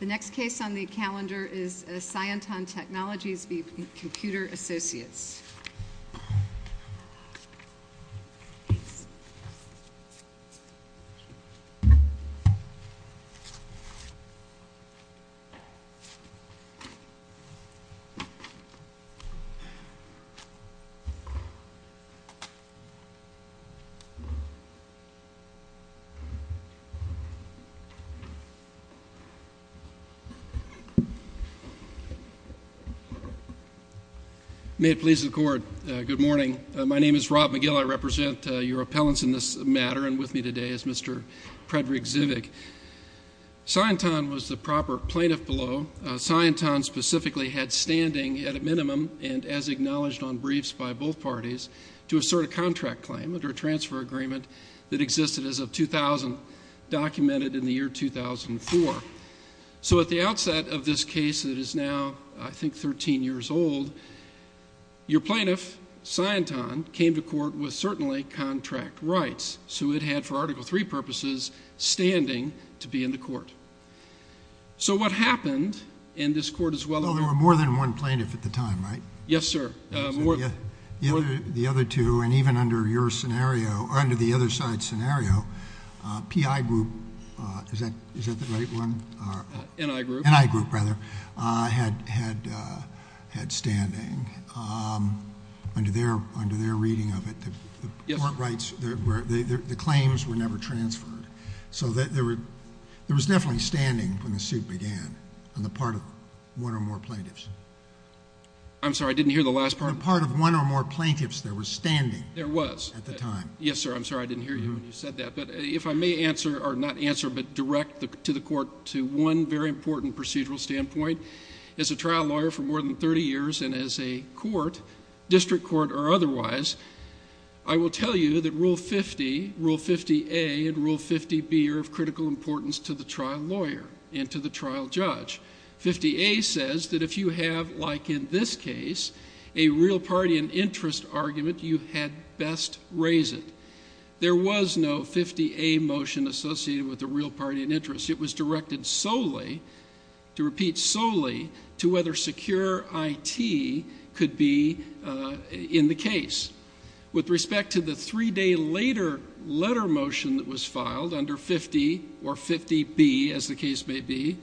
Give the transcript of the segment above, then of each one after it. The next case on the calendar is Scienton Technologies v. Computer Associates. May it please the Court, good morning. My name is Rob McGill. I represent your appellants in this matter, and with me today is Mr. Frederick Zivig. Scienton was the proper plaintiff below. Scienton specifically had standing, at a minimum and as acknowledged on briefs by both parties, to assert a contract claim under a transfer agreement that existed as of 2000, documented in the year 2004. So at the outset of this case that is now, I think, 13 years old, your plaintiff, Scienton, came to court with certainly contract rights. So it had, for Article III purposes, standing to be in the court. So what happened, and this Court is well aware of this. Well, there were more than one plaintiff at the time, right? Yes, sir. The other two, and even under your scenario, or under the other side's scenario, PI Group, is that the right one? NI Group. NI Group, rather, had standing. Under their reading of it, the claims were never transferred. So there was definitely standing when the suit began on the part of one or more plaintiffs. I'm sorry, I didn't hear the last part. On the part of one or more plaintiffs, there was standing. There was. At the time. Yes, sir, I'm sorry I didn't hear you when you said that. But if I may answer, or not answer but direct to the Court, to one very important procedural standpoint, as a trial lawyer for more than 30 years and as a court, district court or otherwise, I will tell you that Rule 50, Rule 50A and Rule 50B are of critical importance to the trial lawyer and to the trial judge. 50A says that if you have, like in this case, a real party and interest argument, you had best raise it. There was no 50A motion associated with a real party and interest. It was directed solely, to repeat solely, to whether secure IT could be in the case. With respect to the three-day later letter motion that was filed under 50 or 50B, as the case may be,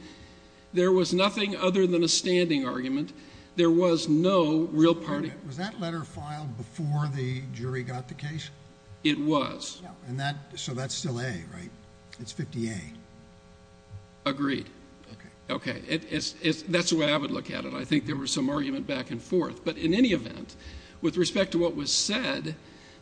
there was nothing other than a standing argument. There was no real party. Was that letter filed before the jury got the case? It was. So that's still A, right? It's 50A. Agreed. Okay. Okay. That's the way I would look at it. I think there was some argument back and forth. But in any event, with respect to what was said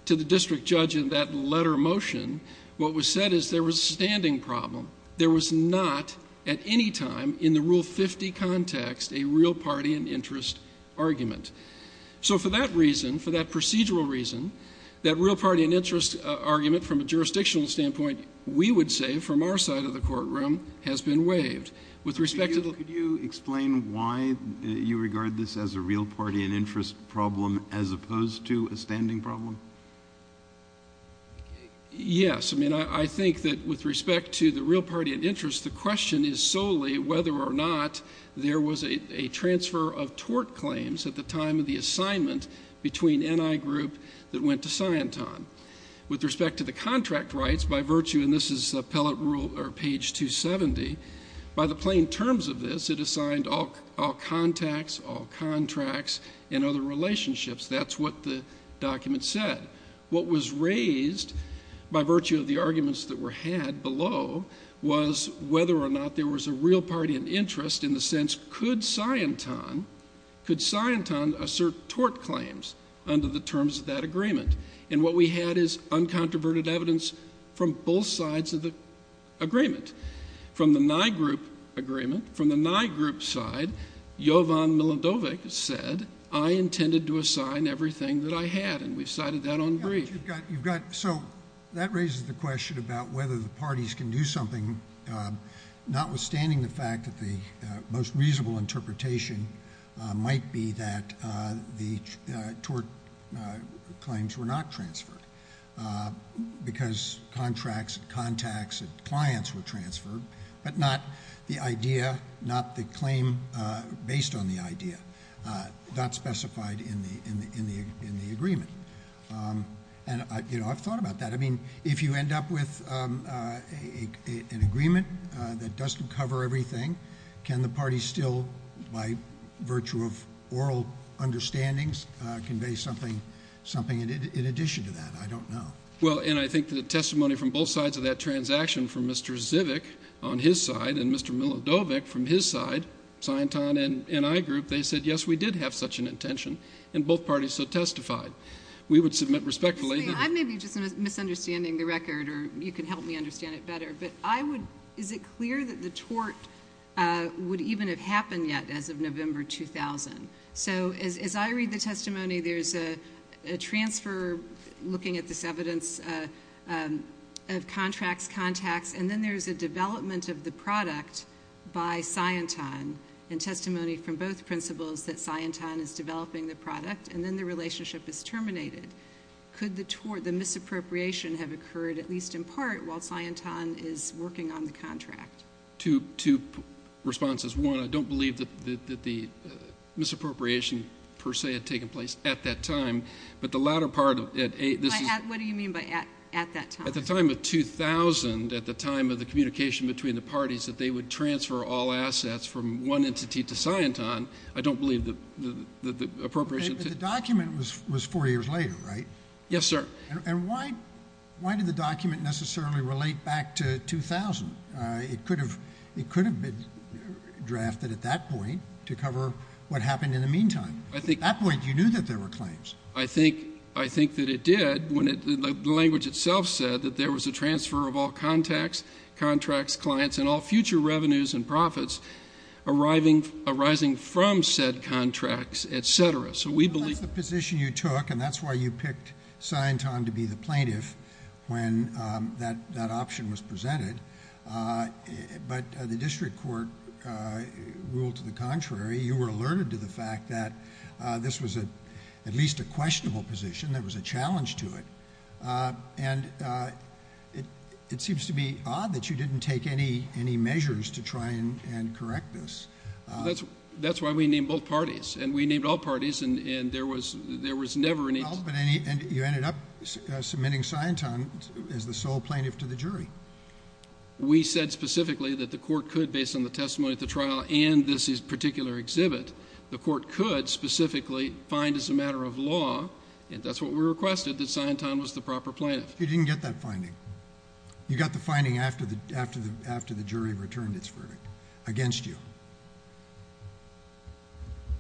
to the district judge in that letter motion, what was said is there was a standing problem. There was not, at any time in the Rule 50 context, a real party and interest argument. So for that reason, for that procedural reason, that real party and interest argument from a jurisdictional standpoint, we would say, from our side of the courtroom, has been waived. With respect to the ---- Could you explain why you regard this as a real party and interest problem as opposed to a standing problem? Yes. I mean, I think that with respect to the real party and interest, the question is solely whether or not there was a transfer of tort claims at the time of the assignment between N.I. Group that went to Scienton. With respect to the contract rights, by virtue, and this is page 270, by the plain terms of this, it assigned all contacts, all contracts, and other relationships. That's what the document said. What was raised, by virtue of the arguments that were had below, was whether or not there was a real party and interest in the sense, could Scienton assert tort claims under the terms of that agreement? And what we had is uncontroverted evidence from both sides of the agreement. From the N.I. Group agreement, from the N.I. Group side, Jovan Milidovic said, I intended to assign everything that I had, and we've cited that on brief. So that raises the question about whether the parties can do something, notwithstanding the fact that the most reasonable interpretation might be that the tort claims were not transferred because contracts and contacts and clients were transferred, but not the idea, not the claim based on the idea, not specified in the agreement. And I've thought about that. I mean, if you end up with an agreement that doesn't cover everything, can the parties still, by virtue of oral understandings, convey something in addition to that? I don't know. Well, and I think the testimony from both sides of that transaction, from Mr. Zivic on his side and Mr. Milidovic from his side, Scienton and N.I. Group, they said, yes, we did have such an intention, and both parties so testified. We would submit respectfully. I may be just misunderstanding the record, or you can help me understand it better, but is it clear that the tort would even have happened yet as of November 2000? So as I read the testimony, there's a transfer looking at this evidence of contracts, contacts, and then there's a development of the product by Scienton and testimony from both principals that Scienton is developing the product, and then the relationship is terminated. Could the misappropriation have occurred, at least in part, while Scienton is working on the contract? Two responses. One, I don't believe that the misappropriation, per se, had taken place at that time, but the latter part of it. What do you mean by at that time? At the time of 2000, at the time of the communication between the parties, that they would transfer all assets from one entity to Scienton, I don't believe the appropriation. But the document was four years later, right? Yes, sir. And why did the document necessarily relate back to 2000? It could have been drafted at that point to cover what happened in the meantime. At that point, you knew that there were claims. I think that it did when the language itself said that there was a transfer of all contacts, contracts, clients, and all future revenues and profits arising from said contracts, et cetera. That's the position you took, and that's why you picked Scienton to be the plaintiff when that option was presented. But the district court ruled to the contrary. You were alerted to the fact that this was at least a questionable position. There was a challenge to it. And it seems to be odd that you didn't take any measures to try and correct this. That's why we named both parties. And we named all parties, and there was never an issue. And you ended up submitting Scienton as the sole plaintiff to the jury. We said specifically that the court could, based on the testimony at the trial and this particular exhibit, the court could specifically find as a matter of law, and that's what we requested, that Scienton was the proper plaintiff. You didn't get that finding. You got the finding after the jury returned its verdict against you.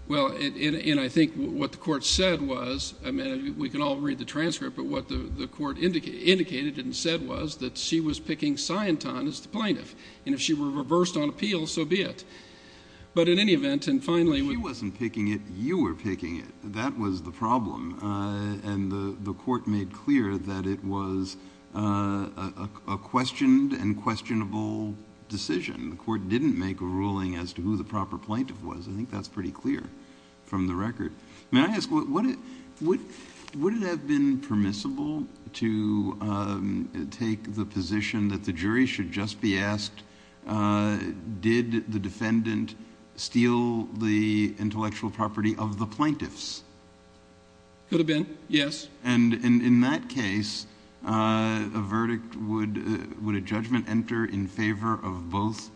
Well, and I think what the court said was, I mean, we can all read the transcript, but what the court indicated and said was that she was picking Scienton as the plaintiff, and if she were reversed on appeal, so be it. But in any event, and finally we ---- She wasn't picking it. You were picking it. That was the problem. And the court made clear that it was a questioned and questionable decision. The court didn't make a ruling as to who the proper plaintiff was. I think that's pretty clear from the record. May I ask, would it have been permissible to take the position that the jury should just be asked, did the defendant steal the intellectual property of the plaintiffs? Could have been, yes. And in that case, a verdict would ---- would a judgment enter in favor of both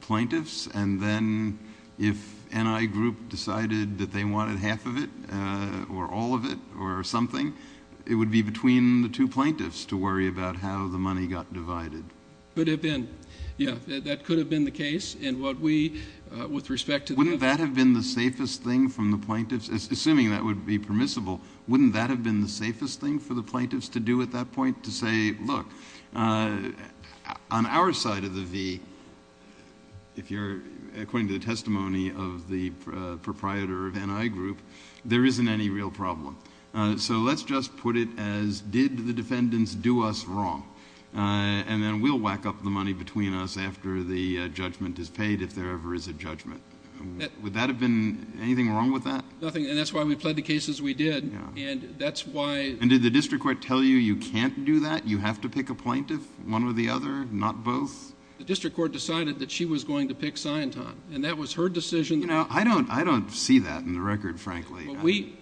plaintiffs, and then if NI group decided that they wanted half of it or all of it or something, it would be between the two plaintiffs to worry about how the money got divided. Could have been, yes. That could have been the case. And what we, with respect to the ---- Wouldn't that have been the safest thing from the plaintiffs, assuming that would be permissible, wouldn't that have been the safest thing for the plaintiffs to do at that point, to say, look, on our side of the V, if you're, according to the testimony of the proprietor of NI group, there isn't any real problem. So let's just put it as, did the defendants do us wrong? And then we'll whack up the money between us after the judgment is paid, if there ever is a judgment. Would that have been anything wrong with that? Nothing. And that's why we pled the case as we did. Yeah. And that's why ---- And did the district court tell you, you can't do that? You have to pick a plaintiff, one or the other, not both? The district court decided that she was going to pick Sianton, and that was her decision. You know, I don't see that in the record, frankly. But we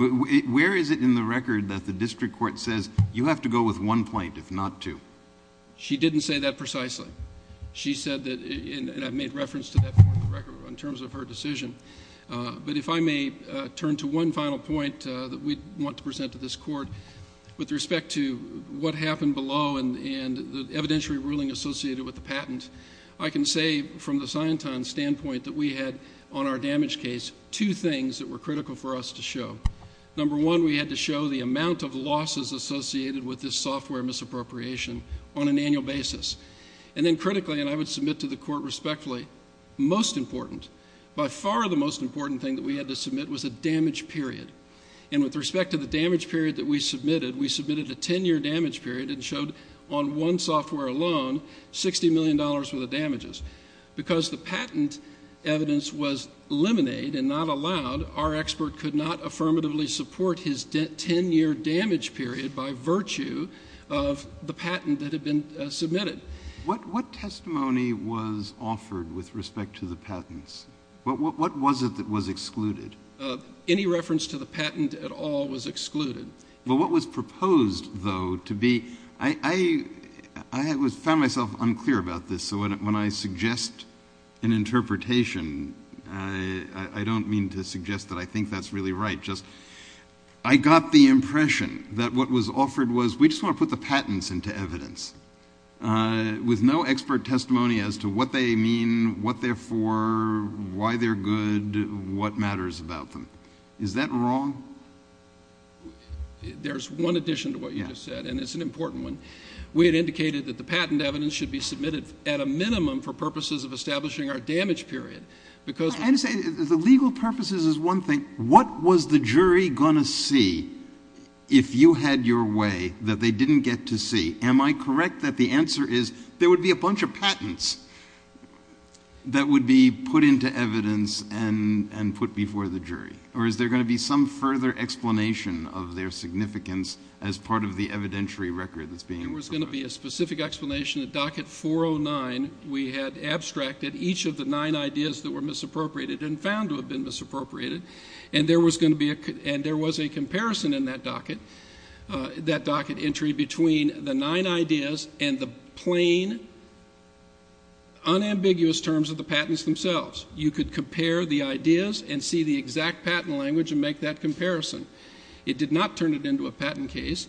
---- Where is it in the record that the district court says, you have to go with one plaintiff, not two? She didn't say that precisely. She said that, and I've made reference to that point in the record in terms of her decision. But if I may turn to one final point that we want to present to this court, with respect to what happened below and the evidentiary ruling associated with the patent, I can say from the Sianton standpoint that we had on our damage case two things that were critical for us to show. Number one, we had to show the amount of losses associated with this software misappropriation on an annual basis. And then critically, and I would submit to the court respectfully, most important, by far the most important thing that we had to submit was a damage period. And with respect to the damage period that we submitted, we submitted a 10-year damage period and showed on one software alone $60 million worth of damages. Because the patent evidence was liminated and not allowed, our expert could not affirmatively support his 10-year damage period by virtue of the patent that had been submitted. What testimony was offered with respect to the patents? What was it that was excluded? Any reference to the patent at all was excluded. But what was proposed, though, to be, I found myself unclear about this, so when I suggest an interpretation, I don't mean to suggest that I think that's really right, just I got the impression that what was offered was we just want to put the patents into evidence with no expert testimony as to what they mean, what they're for, why they're good, what matters about them. Is that wrong? There's one addition to what you just said, and it's an important one. We had indicated that the patent evidence should be submitted at a minimum for purposes of establishing our damage period. I understand. The legal purposes is one thing. What was the jury going to see if you had your way that they didn't get to see? Am I correct that the answer is there would be a bunch of patents that would be put into evidence and put before the jury, or is there going to be some further explanation of their significance as part of the evidentiary record that's being provided? There was going to be a specific explanation at docket 409. We had abstracted each of the nine ideas that were misappropriated and found to have been misappropriated, and there was a comparison in that docket, that docket entry between the nine ideas and the plain, unambiguous terms of the patents themselves. You could compare the ideas and see the exact patent language and make that comparison. It did not turn it into a patent case.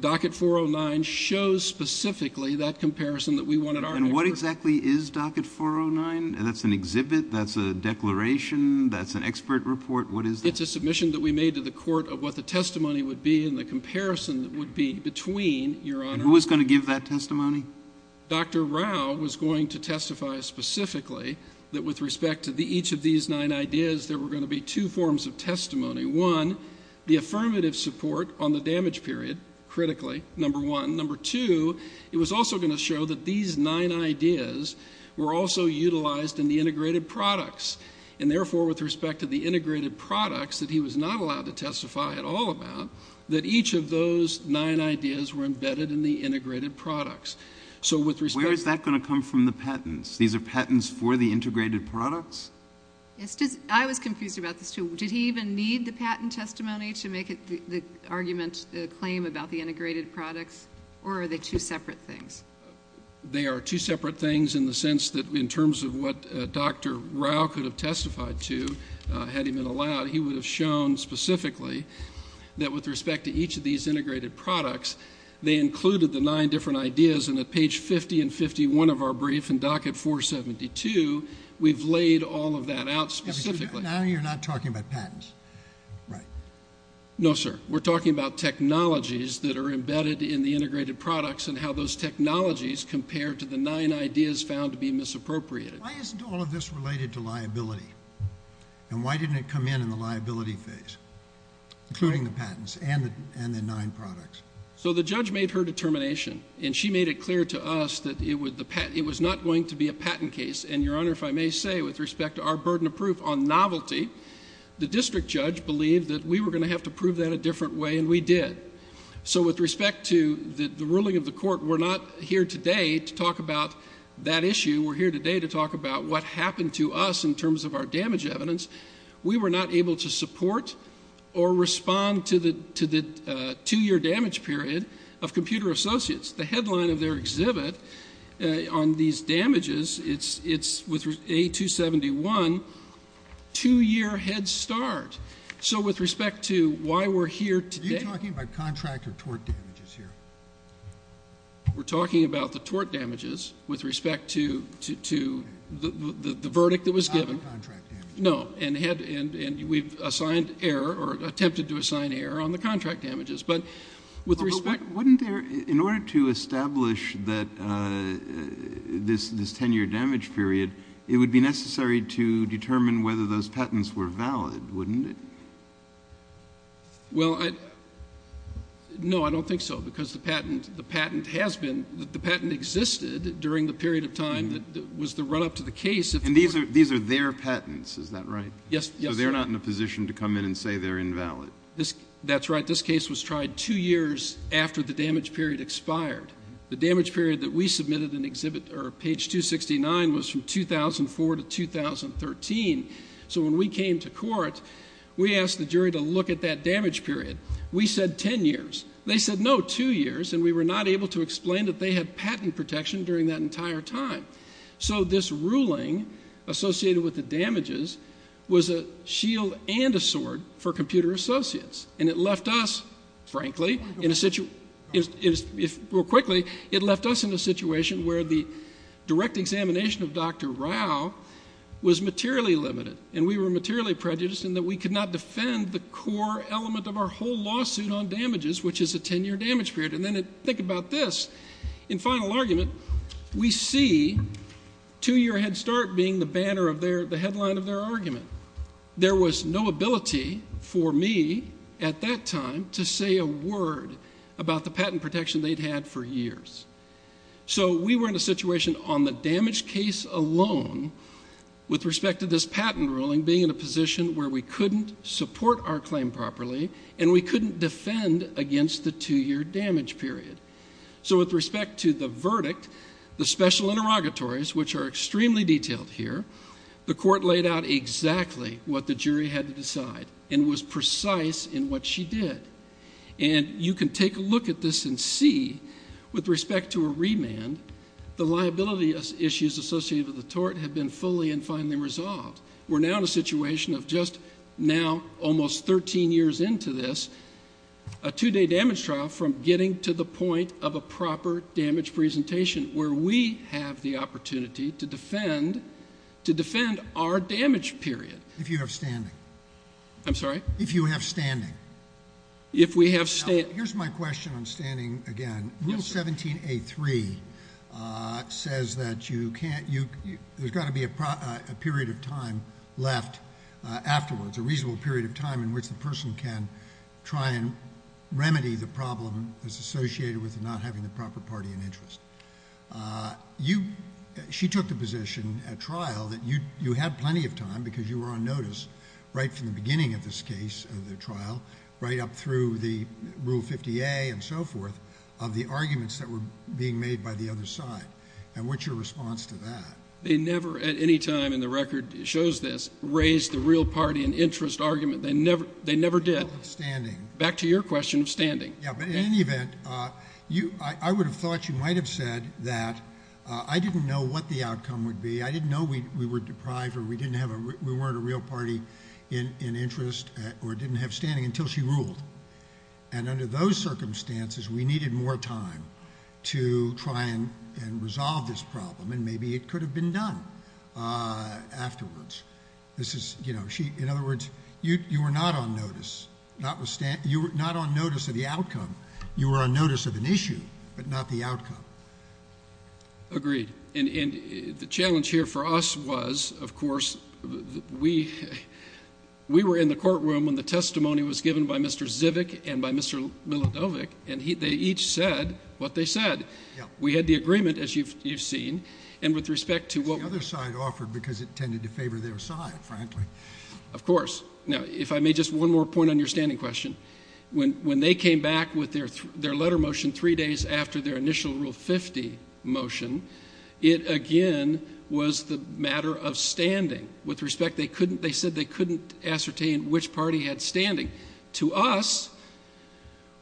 Docket 409 shows specifically that comparison that we wanted our experts... And what exactly is docket 409? That's an exhibit, that's a declaration, that's an expert report. What is that? It's a submission that we made to the court of what the testimony would be and the comparison that would be between, Your Honor... And who was going to give that testimony? Dr. Rao was going to testify specifically that with respect to each of these nine ideas, there were going to be two forms of testimony. One, the affirmative support on the damage period, critically, number one. Number two, it was also going to show that these nine ideas were also utilized in the integrated products. And therefore, with respect to the integrated products that he was not allowed to testify at all about, that each of those nine ideas were embedded in the integrated products. Where is that going to come from, the patents? These are patents for the integrated products? I was confused about this, too. Did he even need the patent testimony to make the argument, the claim about the integrated products? Or are they two separate things? They are two separate things in the sense that in terms of what Dr. Rao could have testified to had he been allowed, he would have shown specifically that with respect to each of these integrated products, they included the nine different ideas and at page 50 and 51 of our brief in docket 472, we've laid all of that out specifically. Now you're not talking about patents, right? No, sir. We're talking about technologies that are embedded in the integrated products and how those technologies compare to the nine ideas found to be misappropriated. Why isn't all of this related to liability? And why didn't it come in in the liability phase, including the patents and the nine products? So the judge made her determination, and she made it clear to us that it was not going to be a patent case. And, Your Honor, if I may say, with respect to our burden of proof on novelty, the district judge believed that we were going to have to prove that a different way, and we did. So with respect to the ruling of the court, we're not here today to talk about that issue. We're here today to talk about what happened to us in terms of our damage evidence. We were not able to support or respond to the two-year damage period of Computer Associates. The headline of their exhibit on these damages, it's with A271, two-year head start. So with respect to why we're here today. Are you talking about contract or tort damages here? We're talking about the tort damages with respect to the verdict that was given. Not the contract damages. No, and we've assigned error or attempted to assign error on the contract damages. But wouldn't there, in order to establish that this ten-year damage period, it would be necessary to determine whether those patents were valid, wouldn't it? Well, no, I don't think so, because the patent has been, the patent existed during the period of time that was the run-up to the case. And these are their patents, is that right? Yes. So they're not in a position to come in and say they're invalid. That's right, this case was tried two years after the damage period expired. The damage period that we submitted in exhibit, or page 269, was from 2004 to 2013. So when we came to court, we asked the jury to look at that damage period. We said ten years. They said no, two years, and we were not able to explain that they had patent protection during that entire time. So this ruling associated with the damages was a shield and a sword for computer associates. And it left us, frankly, in a situation where the direct examination of Dr. Rao was materially limited, and we were materially prejudiced in that we could not defend the core element of our whole lawsuit on damages, which is a ten-year damage period. And then think about this. In final argument, we see two-year Head Start being the banner of their, the headline of their argument. There was no ability for me at that time to say a word about the patent protection they'd had for years. So we were in a situation on the damage case alone, with respect to this patent ruling, where we couldn't support our claim properly, and we couldn't defend against the two-year damage period. So with respect to the verdict, the special interrogatories, which are extremely detailed here, the court laid out exactly what the jury had to decide, and was precise in what she did. And you can take a look at this and see, with respect to a remand, the liability issues associated with the tort have been fully and finally resolved. We're now in a situation of just now, almost 13 years into this, a two-day damage trial from getting to the point of a proper damage presentation, where we have the opportunity to defend our damage period. If you have standing. I'm sorry? If you have standing. If we have standing. Now, here's my question on standing again. Yes, sir. Section 17A.3 says that there's got to be a period of time left afterwards, a reasonable period of time in which the person can try and remedy the problem that's associated with not having the proper party in interest. She took the position at trial that you had plenty of time because you were on notice right from the beginning of this case, of the trial, right up through the Rule 50A and so forth, of the arguments that were being made by the other side. And what's your response to that? They never, at any time in the record that shows this, raised the real party in interest argument. They never did. Back to your question of standing. Yeah, but in any event, I would have thought you might have said that I didn't know what the outcome would be. I didn't know we were deprived or we weren't a real party in interest or didn't have standing until she ruled. And under those circumstances, we needed more time to try and resolve this problem, and maybe it could have been done afterwards. In other words, you were not on notice of the outcome. You were on notice of an issue, but not the outcome. Agreed. And the challenge here for us was, of course, we were in the courtroom when the testimony was given by Mr. Zivick and by Mr. Milodovic, and they each said what they said. We had the agreement, as you've seen, and with respect to what we— The other side offered because it tended to favor their side, frankly. Of course. Now, if I may, just one more point on your standing question. When they came back with their letter motion three days after their initial Rule 50 motion, it, again, was the matter of standing. With respect, they said they couldn't ascertain which party had standing. To us,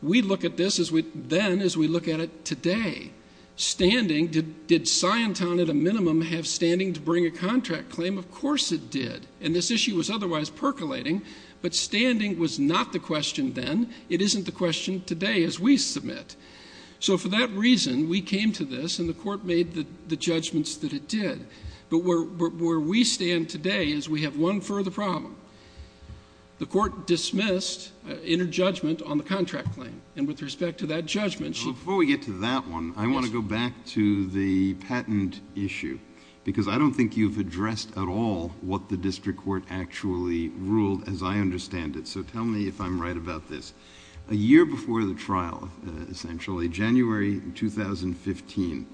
we look at this then as we look at it today. Standing, did Sciontown at a minimum have standing to bring a contract claim? Of course it did, and this issue was otherwise percolating, but standing was not the question then. It isn't the question today as we submit. So for that reason, we came to this, and the Court made the judgments that it did. But where we stand today is we have one further problem. The Court dismissed interjudgment on the contract claim, and with respect to that judgment— Before we get to that one, I want to go back to the patent issue because I don't think you've addressed at all what the district court actually ruled as I understand it. So tell me if I'm right about this. A year before the trial, essentially, January 2015,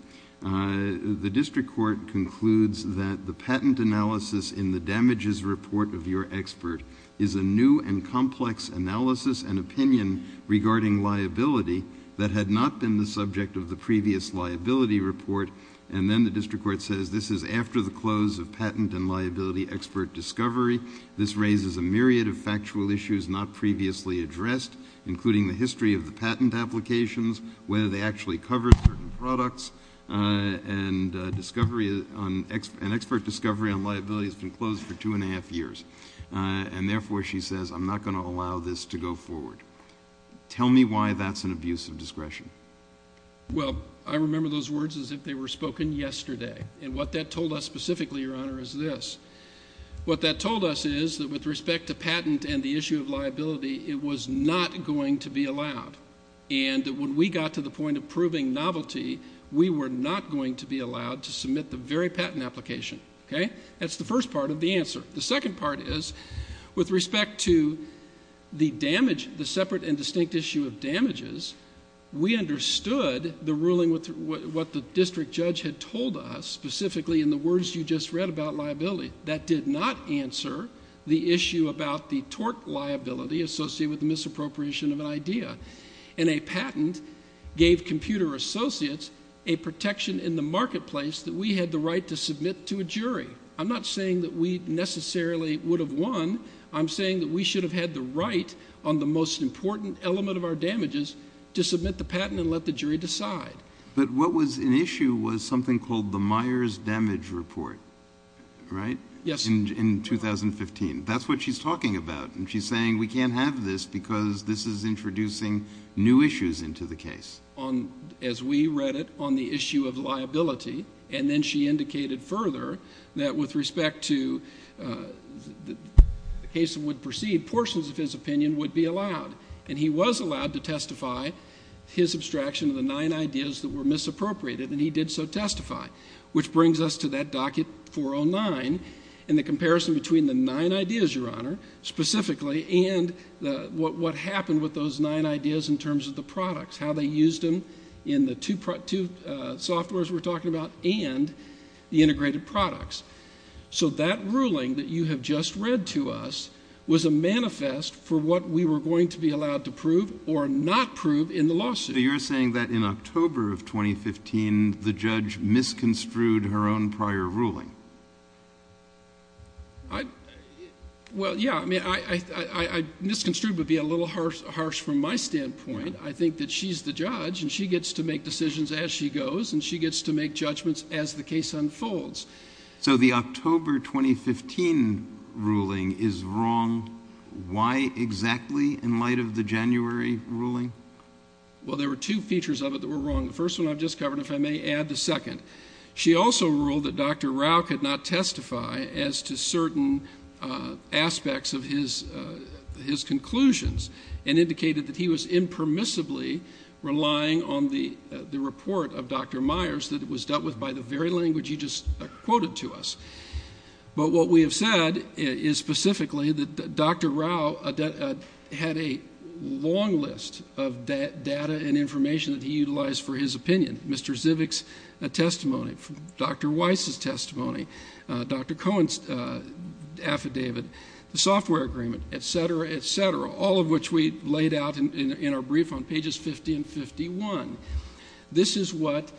the district court concludes that the patent analysis in the damages report of your expert is a new and complex analysis and opinion regarding liability that had not been the subject of the previous liability report, and then the district court says this is after the close of patent and liability expert discovery. This raises a myriad of factual issues not previously addressed, including the history of the patent applications, whether they actually covered certain products, and expert discovery on liability has been closed for two and a half years. And therefore, she says, I'm not going to allow this to go forward. Tell me why that's an abuse of discretion. Well, I remember those words as if they were spoken yesterday, and what that told us specifically, Your Honor, is this. What that told us is that with respect to patent and the issue of liability, it was not going to be allowed, and that when we got to the point of proving novelty, we were not going to be allowed to submit the very patent application. That's the first part of the answer. The second part is with respect to the separate and distinct issue of damages, we understood the ruling, what the district judge had told us, specifically in the words you just read about liability. That did not answer the issue about the tort liability associated with the misappropriation of an idea, and a patent gave computer associates a protection in the marketplace that we had the right to submit to a jury. I'm not saying that we necessarily would have won. I'm saying that we should have had the right on the most important element of our damages to submit the patent and let the jury decide. But what was in issue was something called the Myers Damage Report, right? Yes. In 2015. That's what she's talking about, and she's saying we can't have this because this is introducing new issues into the case. As we read it on the issue of liability, and then she indicated further that with respect to the case that would proceed, portions of his opinion would be allowed, and he was allowed to testify his abstraction of the nine ideas that were misappropriated, and he did so testify, which brings us to that docket 409 and the comparison between the nine ideas, Your Honor, specifically, and what happened with those nine ideas in terms of the products, how they used them in the two softwares we're talking about and the integrated products. So that ruling that you have just read to us was a manifest for what we were going to be allowed to prove or not prove in the lawsuit. So you're saying that in October of 2015, the judge misconstrued her own prior ruling? Well, yeah. I mean, misconstrued would be a little harsh from my standpoint. I think that she's the judge, and she gets to make decisions as she goes, and she gets to make judgments as the case unfolds. So the October 2015 ruling is wrong. Why exactly in light of the January ruling? Well, there were two features of it that were wrong. The first one I've just covered, if I may add the second. She also ruled that Dr. Rao could not testify as to certain aspects of his conclusions and indicated that he was impermissibly relying on the report of Dr. Myers that was dealt with by the very language you just quoted to us. But what we have said is specifically that Dr. Rao had a long list of data and information that he utilized for his opinion. Mr. Zivick's testimony, Dr. Weiss's testimony, Dr. Cohen's affidavit, the software agreement, et cetera, et cetera. All of which we laid out in our brief on pages 50 and 51. This is what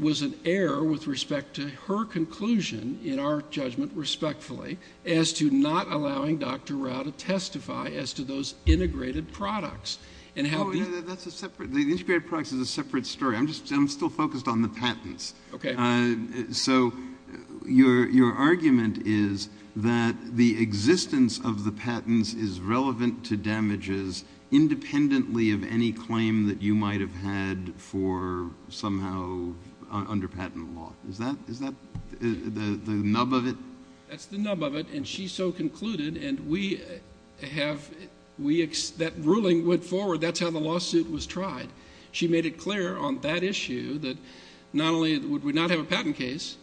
was an error with respect to her conclusion in our judgment, respectfully, as to not allowing Dr. Rao to testify as to those integrated products. Oh, that's a separate – the integrated products is a separate story. I'm still focused on the patents. Okay. So your argument is that the existence of the patents is relevant to damages independently of any claim that you might have had for somehow under patent law. Is that the nub of it? That's the nub of it, and she so concluded, and we have – that ruling went forward. That's how the lawsuit was tried. She made it clear on that issue that not only would we not have a patent case,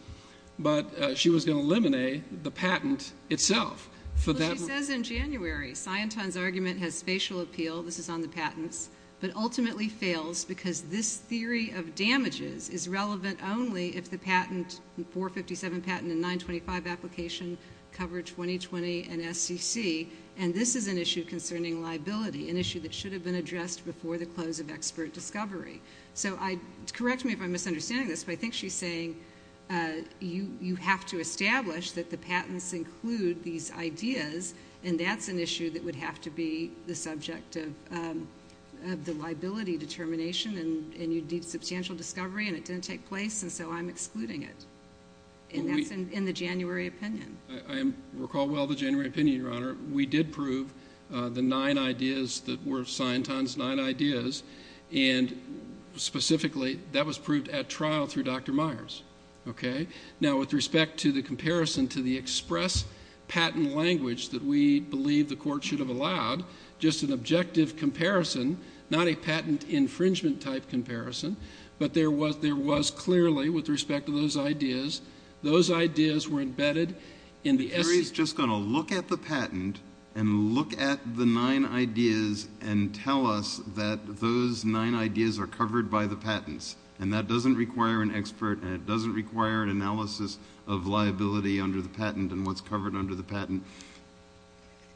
but she was going to eliminate the patent itself. She says in January, Scienton's argument has spatial appeal, this is on the patents, but ultimately fails because this theory of damages is relevant only if the patent, 457 patent and 925 application cover 2020 and SEC, and this is an issue concerning liability, an issue that should have been addressed before the close of expert discovery. So correct me if I'm misunderstanding this, but I think she's saying you have to establish that the patents include these ideas, and that's an issue that would have to be the subject of the liability determination, and you'd need substantial discovery, and it didn't take place, and so I'm excluding it. And that's in the January opinion. I recall well the January opinion, Your Honor. We did prove the nine ideas that were Scienton's nine ideas, and specifically that was proved at trial through Dr. Myers. Okay? Now with respect to the comparison to the express patent language that we believe the court should have allowed, just an objective comparison, not a patent infringement type comparison, but there was clearly with respect to those ideas, those ideas were embedded in the SEC. The jury's just going to look at the patent and look at the nine ideas and tell us that those nine ideas are covered by the patents, and that doesn't require an expert and it doesn't require an analysis of liability under the patent and what's covered under the patent.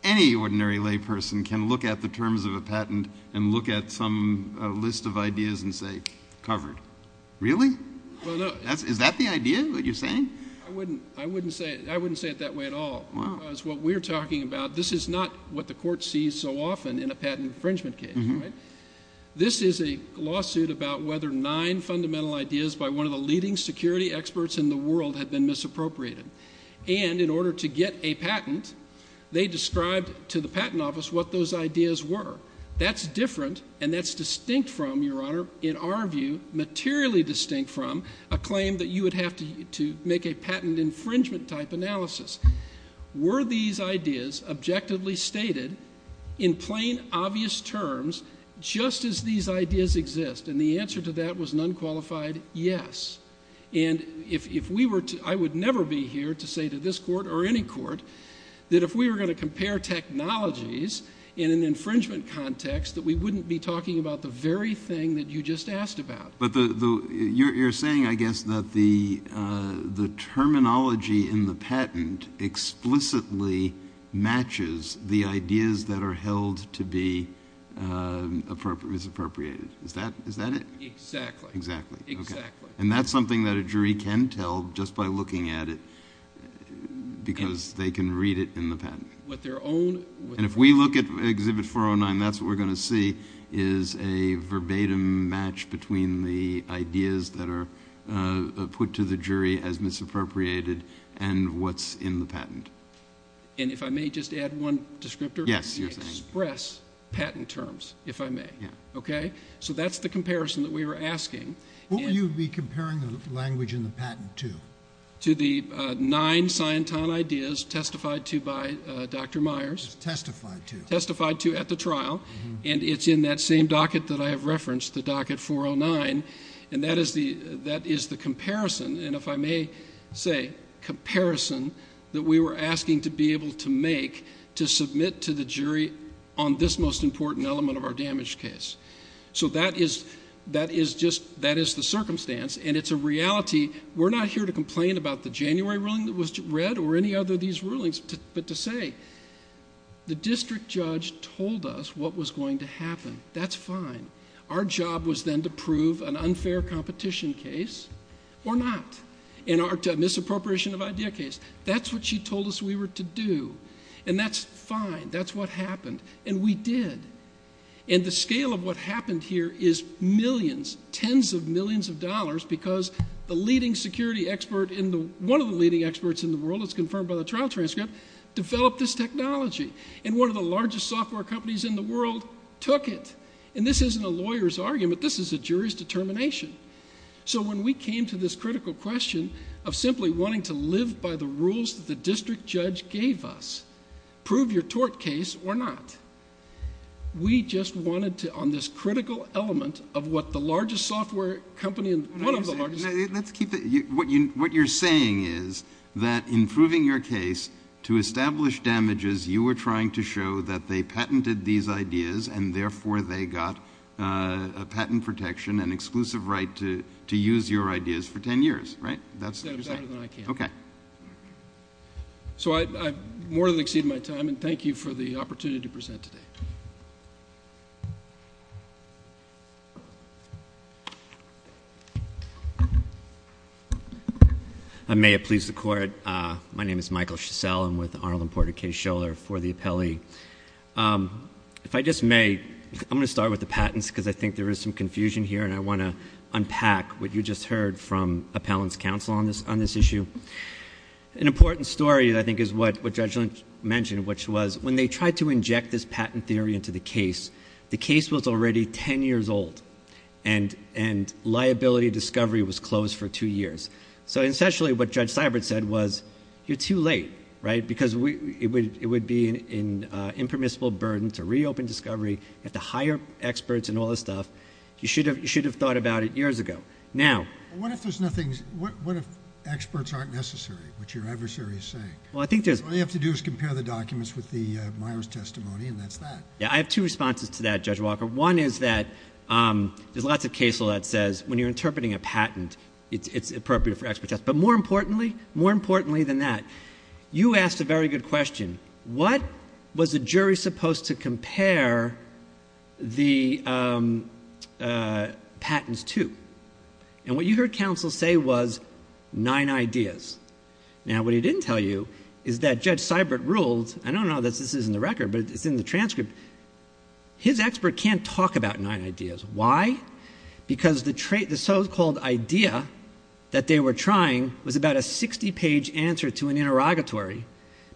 Any ordinary layperson can look at the terms of a patent and look at some list of ideas and say, covered. Really? Is that the idea that you're saying? I wouldn't say it that way at all because what we're talking about, this is not what the court sees so often in a patent infringement case. This is a lawsuit about whether nine fundamental ideas by one of the leading security experts in the world had been misappropriated, and in order to get a patent, they described to the patent office what those ideas were. That's different and that's distinct from, Your Honor, in our view, materially distinct from a claim that you would have to make a patent infringement type analysis. Were these ideas objectively stated in plain, obvious terms just as these ideas exist? And the answer to that was an unqualified yes. And I would never be here to say to this court or any court that if we were going to compare technologies in an infringement context, that we wouldn't be talking about the very thing that you just asked about. But you're saying, I guess, that the terminology in the patent explicitly matches the ideas that are held to be misappropriated. Is that it? Exactly. Exactly, okay. And that's something that a jury can tell just by looking at it because they can read it in the patent. And if we look at Exhibit 409, that's what we're going to see is a verbatim match between the ideas that are put to the jury as misappropriated and what's in the patent. And if I may just add one descriptor? Yes. Express patent terms, if I may. Yeah. Okay? So that's the comparison that we were asking. What would you be comparing the language in the patent to? To the nine Scientan ideas testified to by Dr. Myers. Testified to. Testified to at the trial. And it's in that same docket that I have referenced, the docket 409. And that is the comparison, and if I may say, comparison that we were asking to be able to make to submit to the jury on this most important element of our damage case. So that is just the circumstance, and it's a reality. We're not here to complain about the January ruling that was read or any other of these rulings, but to say, the district judge told us what was going to happen. That's fine. Our job was then to prove an unfair competition case or not, in our misappropriation of idea case. That's what she told us we were to do, and that's fine. That's what happened, and we did. And the scale of what happened here is millions, tens of millions of dollars, because the leading security expert, one of the leading experts in the world, as confirmed by the trial transcript, developed this technology. And one of the largest software companies in the world took it. And this isn't a lawyer's argument. This is a jury's determination. So when we came to this critical question of simply wanting to live by the rules that the district judge gave us, prove your tort case or not, we just wanted to, on this critical element of what the largest software company and one of the largest... What you're saying is that in proving your case to establish damages, you were trying to show that they patented these ideas and therefore they got a patent protection and exclusive right to use your ideas for ten years, right? That's what you're saying. That's better than I can. Okay. So I've more than exceeded my time, and thank you for the opportunity to present today. May it please the Court. My name is Michael Shisell. I'm with Arnold and Porter Case Scholar for the appellee. If I just may, I'm going to start with the patents, because I think there is some confusion here, and I want to unpack what you just heard from Appellant's counsel on this issue. An important story, I think, is what Judge Lynch mentioned, which was when they tried to inject this patent theory into the case, the case was already ten years old, and liability discovery was closed for two years. So essentially what Judge Seibert said was, you're too late, right, because it would be an impermissible burden to reopen discovery. You have to hire experts and all this stuff. You should have thought about it years ago. What if experts aren't necessary, which your adversary is saying? All you have to do is compare the documents with the Myers testimony, and that's that. I have two responses to that, Judge Walker. One is that there's lots of case law that says when you're interpreting a patent, it's appropriate for expert test. But more importantly than that, you asked a very good question. What was the jury supposed to compare the patents to? And what you heard counsel say was nine ideas. Now what he didn't tell you is that Judge Seibert ruled, I don't know if this is in the record, but it's in the transcript, his expert can't talk about nine ideas. Why? Because the so-called idea that they were trying was about a 60-page answer to an interrogatory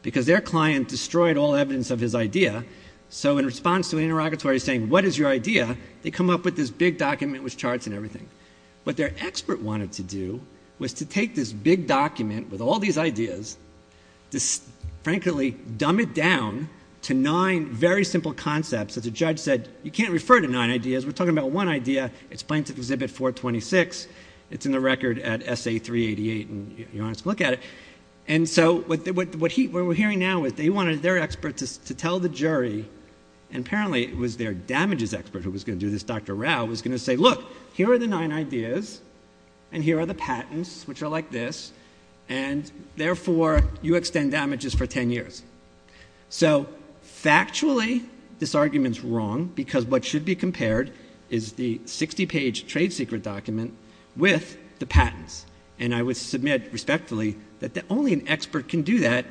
because their client destroyed all evidence of his idea. So in response to an interrogatory saying, what is your idea, they come up with this big document with charts and everything. What their expert wanted to do was to take this big document with all these ideas, to frankly dumb it down to nine very simple concepts that the judge said, you can't refer to nine ideas. We're talking about one idea. It's plaintiff exhibit 426. It's in the record at SA388, and you don't have to look at it. And so what we're hearing now is they wanted their expert to tell the jury, and apparently it was their damages expert who was going to do this, Dr. Rao, was going to say, look, here are the nine ideas, and here are the patents, which are like this, and therefore you extend damages for ten years. So factually this argument is wrong because what should be compared is the 60-page trade secret document with the patents. And I would submit respectfully that only an expert can do that,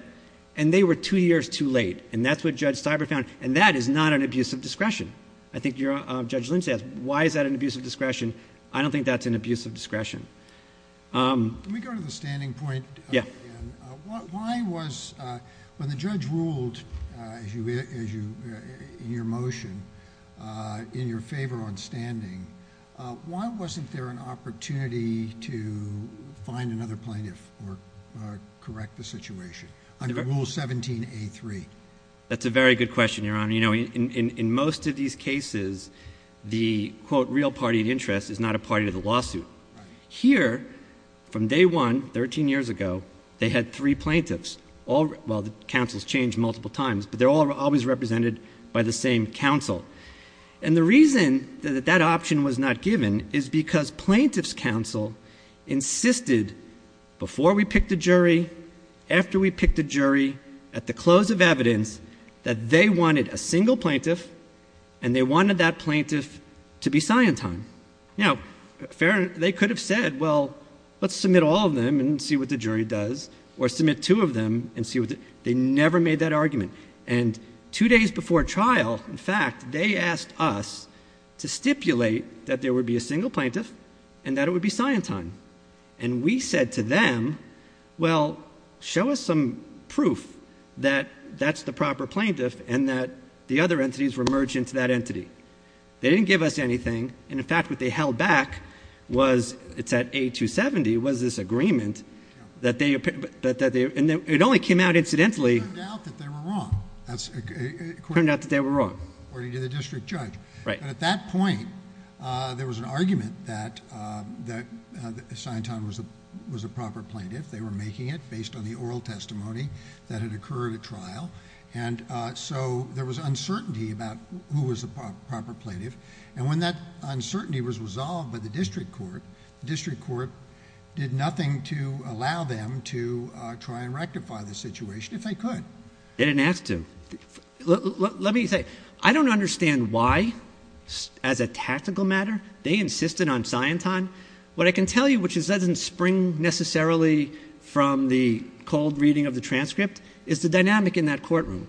and they were two years too late, and that's what Judge Steiber found, and that is not an abuse of discretion. I think Judge Lynch asked, why is that an abuse of discretion? I don't think that's an abuse of discretion. Let me go to the standing point again. When the judge ruled in your motion in your favor on standing, why wasn't there an opportunity to find another plaintiff or correct the situation under Rule 17A3? That's a very good question, Your Honor. In most of these cases, the, quote, real party of interest is not a party to the lawsuit. Here, from day one, 13 years ago, they had three plaintiffs. Well, the counsels changed multiple times, but they're always represented by the same counsel. And the reason that that option was not given is because plaintiff's counsel insisted before we picked a jury, after we picked a jury, at the close of evidence, that they wanted a single plaintiff and they wanted that plaintiff to be Siontime. Now, they could have said, well, let's submit all of them and see what the jury does or submit two of them and see what the jury does. They never made that argument. And two days before trial, in fact, they asked us to stipulate that there would be a single plaintiff and that it would be Siontime. And we said to them, well, show us some proof that that's the proper plaintiff and that the other entities were merged into that entity. They didn't give us anything. And, in fact, what they held back was, it's at A270, was this agreement that they, and it only came out incidentally. It turned out that they were wrong. It turned out that they were wrong. According to the district judge. Right. But at that point, there was an argument that Siontime was the proper plaintiff. They were making it based on the oral testimony that had occurred at trial. And so there was uncertainty about who was the proper plaintiff. And when that uncertainty was resolved by the district court, the district court did nothing to allow them to try and rectify the situation, if they could. They didn't ask to. Let me say, I don't understand why, as a tactical matter, they insisted on Siontime. What I can tell you, which doesn't spring necessarily from the cold reading of the transcript, is the dynamic in that courtroom.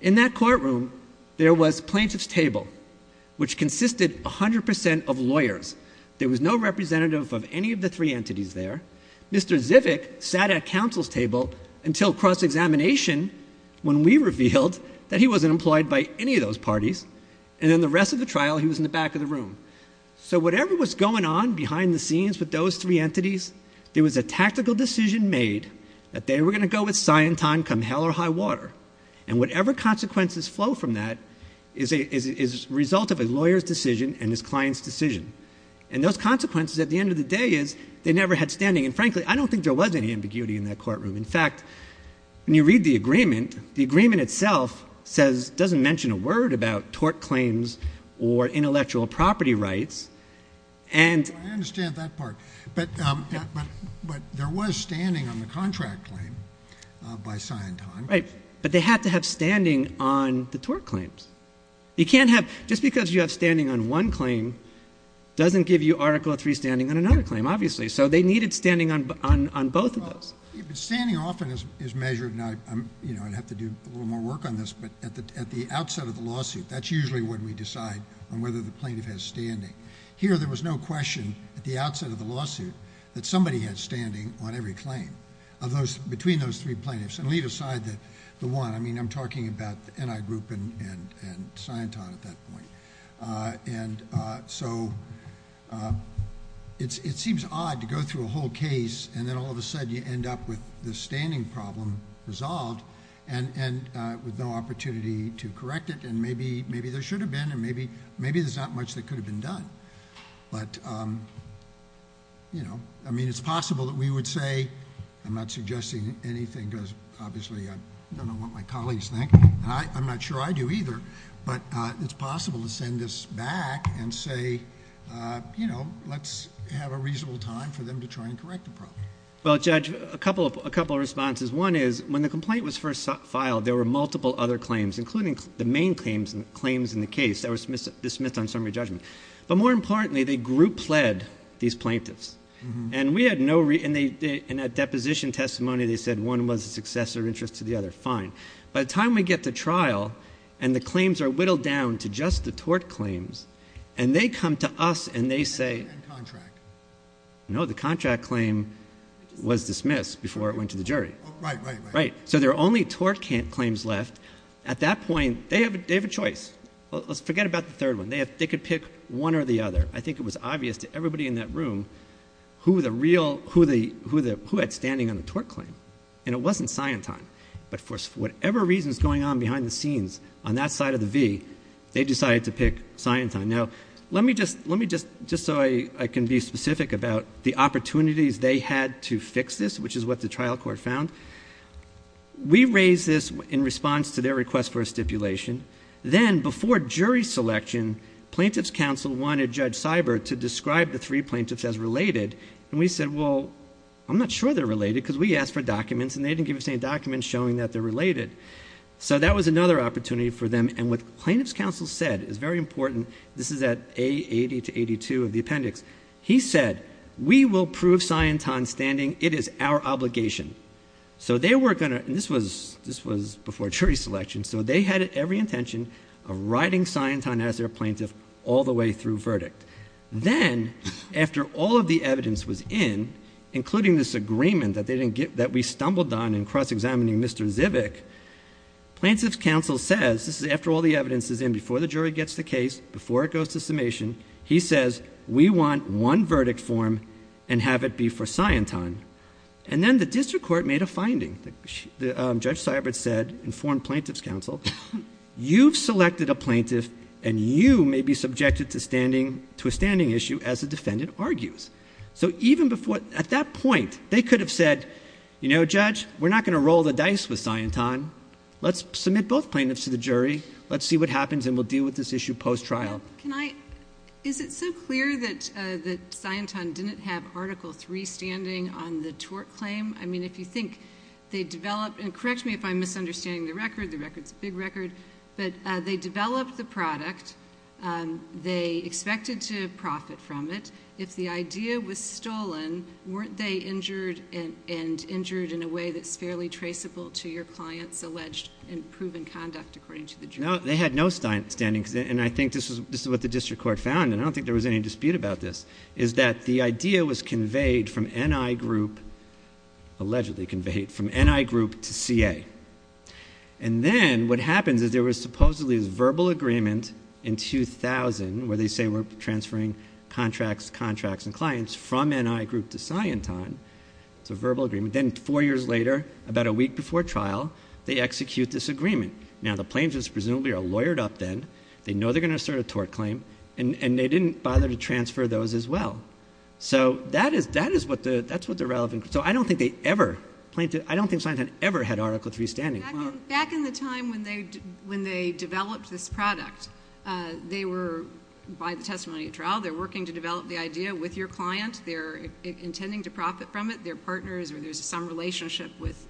In that courtroom, there was plaintiff's table, which consisted 100% of lawyers. There was no representative of any of the three entities there. Mr. Zivick sat at counsel's table until cross-examination when we revealed that he wasn't employed by any of those parties. And then the rest of the trial, he was in the back of the room. So whatever was going on behind the scenes with those three entities, there was a tactical decision made that they were going to go with Siontime come hell or high water. And whatever consequences flow from that is a result of a lawyer's decision and his client's decision. And those consequences, at the end of the day, is they never had standing. And frankly, I don't think there was any ambiguity in that courtroom. In fact, when you read the agreement, the agreement itself doesn't mention a word about tort claims or intellectual property rights. I understand that part. But there was standing on the contract claim by Siontime. Right. But they had to have standing on the tort claims. Just because you have standing on one claim doesn't give you Article III standing on another claim, obviously. So they needed standing on both of those. But standing often is measured, and I'd have to do a little more work on this, but at the outset of the lawsuit, that's usually when we decide on whether the plaintiff has standing. Here there was no question at the outset of the lawsuit that somebody had standing on every claim between those three plaintiffs. And leave aside the one. I mean, I'm talking about the NI group and Siontime at that point. And so it seems odd to go through a whole case, and then all of a sudden you end up with the standing problem resolved and with no opportunity to correct it. And maybe there should have been, and maybe there's not much that could have been done. But, you know, I mean, it's possible that we would say, I'm not suggesting anything because obviously I don't know what my colleagues think, and I'm not sure I do either, but it's possible to send this back and say, you know, let's have a reasonable time for them to try and correct the problem. Well, Judge, a couple of responses. One is when the complaint was first filed, there were multiple other claims, including the main claims in the case that were dismissed on summary judgment. But more importantly, the group led these plaintiffs. And we had no reason, in that deposition testimony, they said one was a successor interest to the other. Fine. By the time we get to trial and the claims are whittled down to just the tort claims, and they come to us and they say, no, the contract claim was dismissed before it went to the jury. Right, right, right. Right. So there are only tort claims left. At that point, they have a choice. Let's forget about the third one. They could pick one or the other. I think it was obvious to everybody in that room who the real, who had standing on the tort claim. And it wasn't Syenton. But for whatever reasons going on behind the scenes, on that side of the V, they decided to pick Syenton. Now, let me just, just so I can be specific about the opportunities they had to fix this, which is what the trial court found. We raised this in response to their request for a stipulation. Then before jury selection, plaintiff's counsel wanted Judge Seibert to describe the three plaintiffs as related. And we said, well, I'm not sure they're related because we asked for documents and they didn't give us any documents showing that they're related. So that was another opportunity for them. And what plaintiff's counsel said is very important. This is at a 80 to 82 of the appendix. He said, we will prove Syenton standing. It is our obligation. So they were going to, and this was, this was before jury selection. So they had every intention of writing Syenton as their plaintiff all the way through verdict. Then after all of the evidence was in, including this agreement that they didn't get, that we stumbled on in cross-examining Mr. Zivick, plaintiff's counsel says, this is after all the evidence is in, before the jury gets the case, before it goes to summation, he says, we want one verdict form and have it be for Syenton. And then the district court made a finding. Judge Seibert said, informed plaintiff's counsel, you've selected a plaintiff and you may be subjected to standing, to a standing issue as a defendant argues. So even before at that point, they could have said, you know, judge, we're not going to roll the dice with Syenton. Let's submit both plaintiffs to the jury. Let's see what happens. And we'll deal with this issue post trial. Can I, is it so clear that the Syenton didn't have article three standing on the tort claim? I mean, if you think they developed, and correct me if I'm misunderstanding the record, the record's a big record, but they developed the product. They expected to profit from it. If the idea was stolen, weren't they injured and injured in a way that's fairly traceable to your clients alleged and proven conduct according to the jury? No, they had no standing. And I think this is what the district court found. And I don't think there was any dispute about this is that the idea was allegedly conveyed from NI group to CA. And then what happens is there was supposedly this verbal agreement in 2000 where they say we're transferring contracts, contracts and clients from NI group to Syenton. It's a verbal agreement. Then four years later, about a week before trial, they execute this agreement. Now the plaintiffs presumably are lawyered up. Then they know they're going to start a tort claim and they didn't bother to transfer those as well. So that is, that is what the, that's what the relevant. So I don't think they ever plaintiff. I don't think Syenton ever had article three standing. Back in the time when they, when they developed this product, they were by the testimony at trial, they're working to develop the idea with your client. They're intending to profit from it. They're partners or there's some relationship with,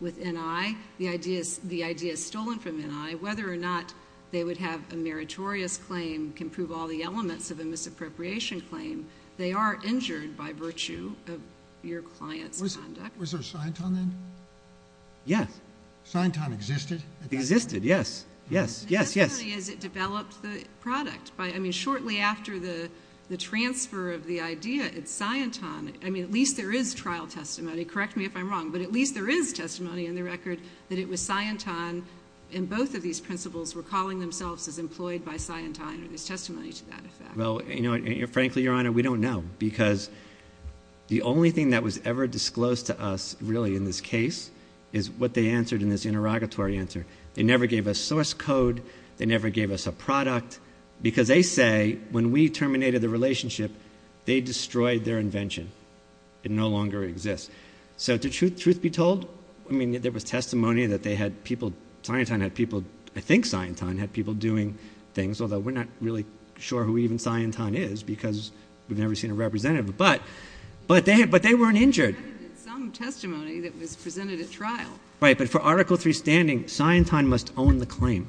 with NI. The idea is the idea is stolen from NI, whether or not they would have a meritorious claim can prove all the elements of a misappropriation claim. They are injured by virtue of your client's conduct. Was there Syenton then? Yes. Syenton existed. It existed. Yes. Yes. Yes. Yes. It developed the product by, I mean, shortly after the transfer of the idea at Syenton, I mean, at least there is trial testimony. Correct me if I'm wrong, but at least there is testimony in the record that it was Syenton. And both of these principles were calling themselves as employed by Syenton or this testimony to that effect. Well, you know, frankly, Your Honor, we don't know because the only thing that was ever disclosed to us really in this case is what they answered in this interrogatory answer. They never gave us source code. They never gave us a product because they say when we terminated the relationship, they destroyed their invention. It no longer exists. So to truth be told, I mean, there was testimony that they had people, Syenton had people, I think Syenton had people doing things, although we're not really sure who even Syenton is because we've never seen a representative. But they weren't injured. Some testimony that was presented at trial. Right. But for Article III standing, Syenton must own the claim.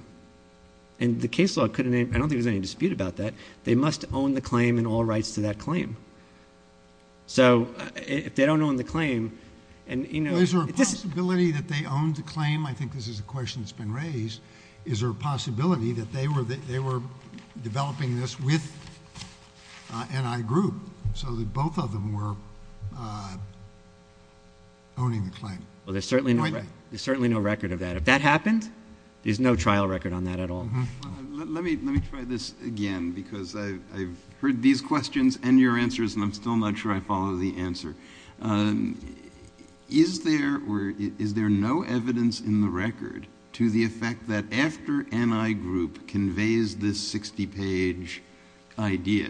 And the case law couldn't, I don't think there's any dispute about that. They must own the claim and all rights to that claim. So if they don't own the claim and, you know... Is there a possibility that they owned the claim? I think this is a question that's been raised. Is there a possibility that they were developing this with N.I. Group so that both of them were owning the claim? Well, there's certainly no record of that. If that happened, there's no trial record on that at all. Let me try this again because I've heard these questions and your answers and I'm still not sure I follow the answer. Is there no evidence in the record to the effect that after N.I. Group conveys this 60-page idea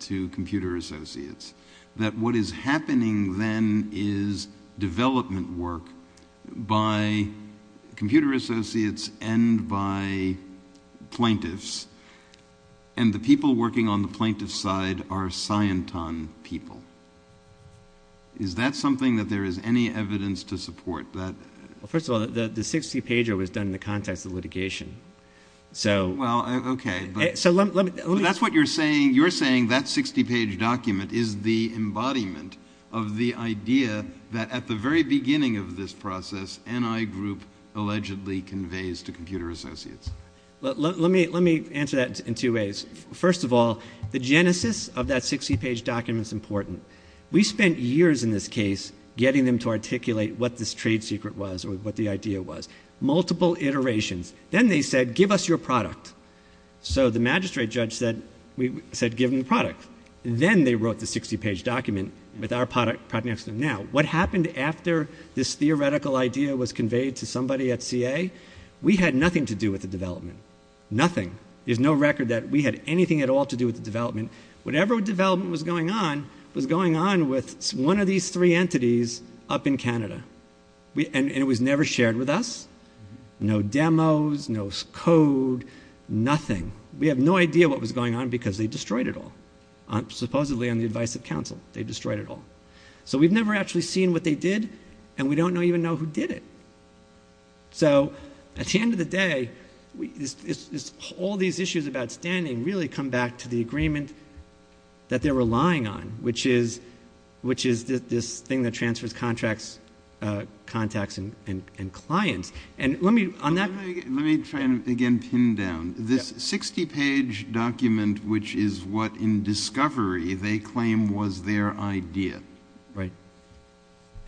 to Computer Associates that what is happening then is development work by Computer Associates and by plaintiffs and the people working on the plaintiff's side are Syenton people? Is that something that there is any evidence to support? First of all, the 60-pager was done in the context of litigation. Well, okay. That's what you're saying. You're saying that 60-page document is the embodiment of the idea that at the very beginning of this process, N.I. Group allegedly conveys to Computer Associates. Let me answer that in two ways. First of all, the genesis of that 60-page document is important. We spent years in this case getting them to articulate what this trade secret was or what the idea was, multiple iterations. Then they said, give us your product. So the magistrate judge said, give them the product. Then they wrote the 60-page document with our product next to them. Now, what happened after this theoretical idea was conveyed to somebody at CA? We had nothing to do with the development, nothing. There's no record that we had anything at all to do with the development. Whatever development was going on was going on with one of these three entities up in Canada. And it was never shared with us. No demos, no code, nothing. We have no idea what was going on because they destroyed it all. Supposedly on the advice of counsel, they destroyed it all. So we've never actually seen what they did, and we don't even know who did it. So at the end of the day, all these issues about standing really come back to the agreement that they're relying on, which is this thing that transfers contracts, contacts, and clients. And let me, on that- Let me try and again pin down. This 60-page document, which is what in discovery they claim was their idea. Right.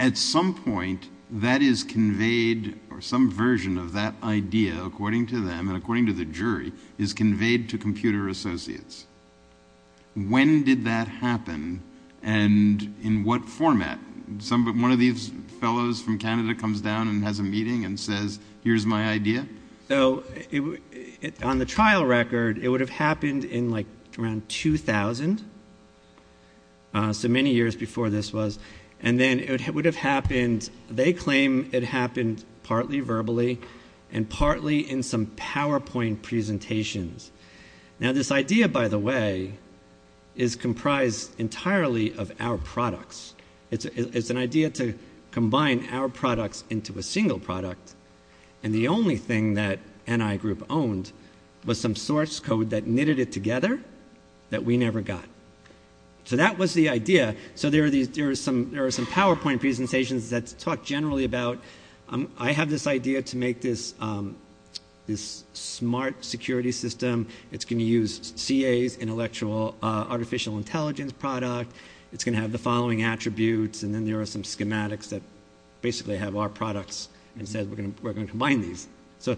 At some point, that is conveyed, or some version of that idea, according to them, and according to the jury, is conveyed to Computer Associates. When did that happen, and in what format? One of these fellows from Canada comes down and has a meeting and says, Here's my idea. So on the trial record, it would have happened in like around 2000. So many years before this was. And then it would have happened, they claim it happened partly verbally and partly in some PowerPoint presentations. Now this idea, by the way, is comprised entirely of our products. It's an idea to combine our products into a single product, and the only thing that NI Group owned was some source code that knitted it together that we never got. So that was the idea. So there are some PowerPoint presentations that talk generally about, I have this idea to make this smart security system. It's going to use CA's intellectual artificial intelligence product. It's going to have the following attributes, and then there are some schematics that basically have our products and said we're going to combine these. So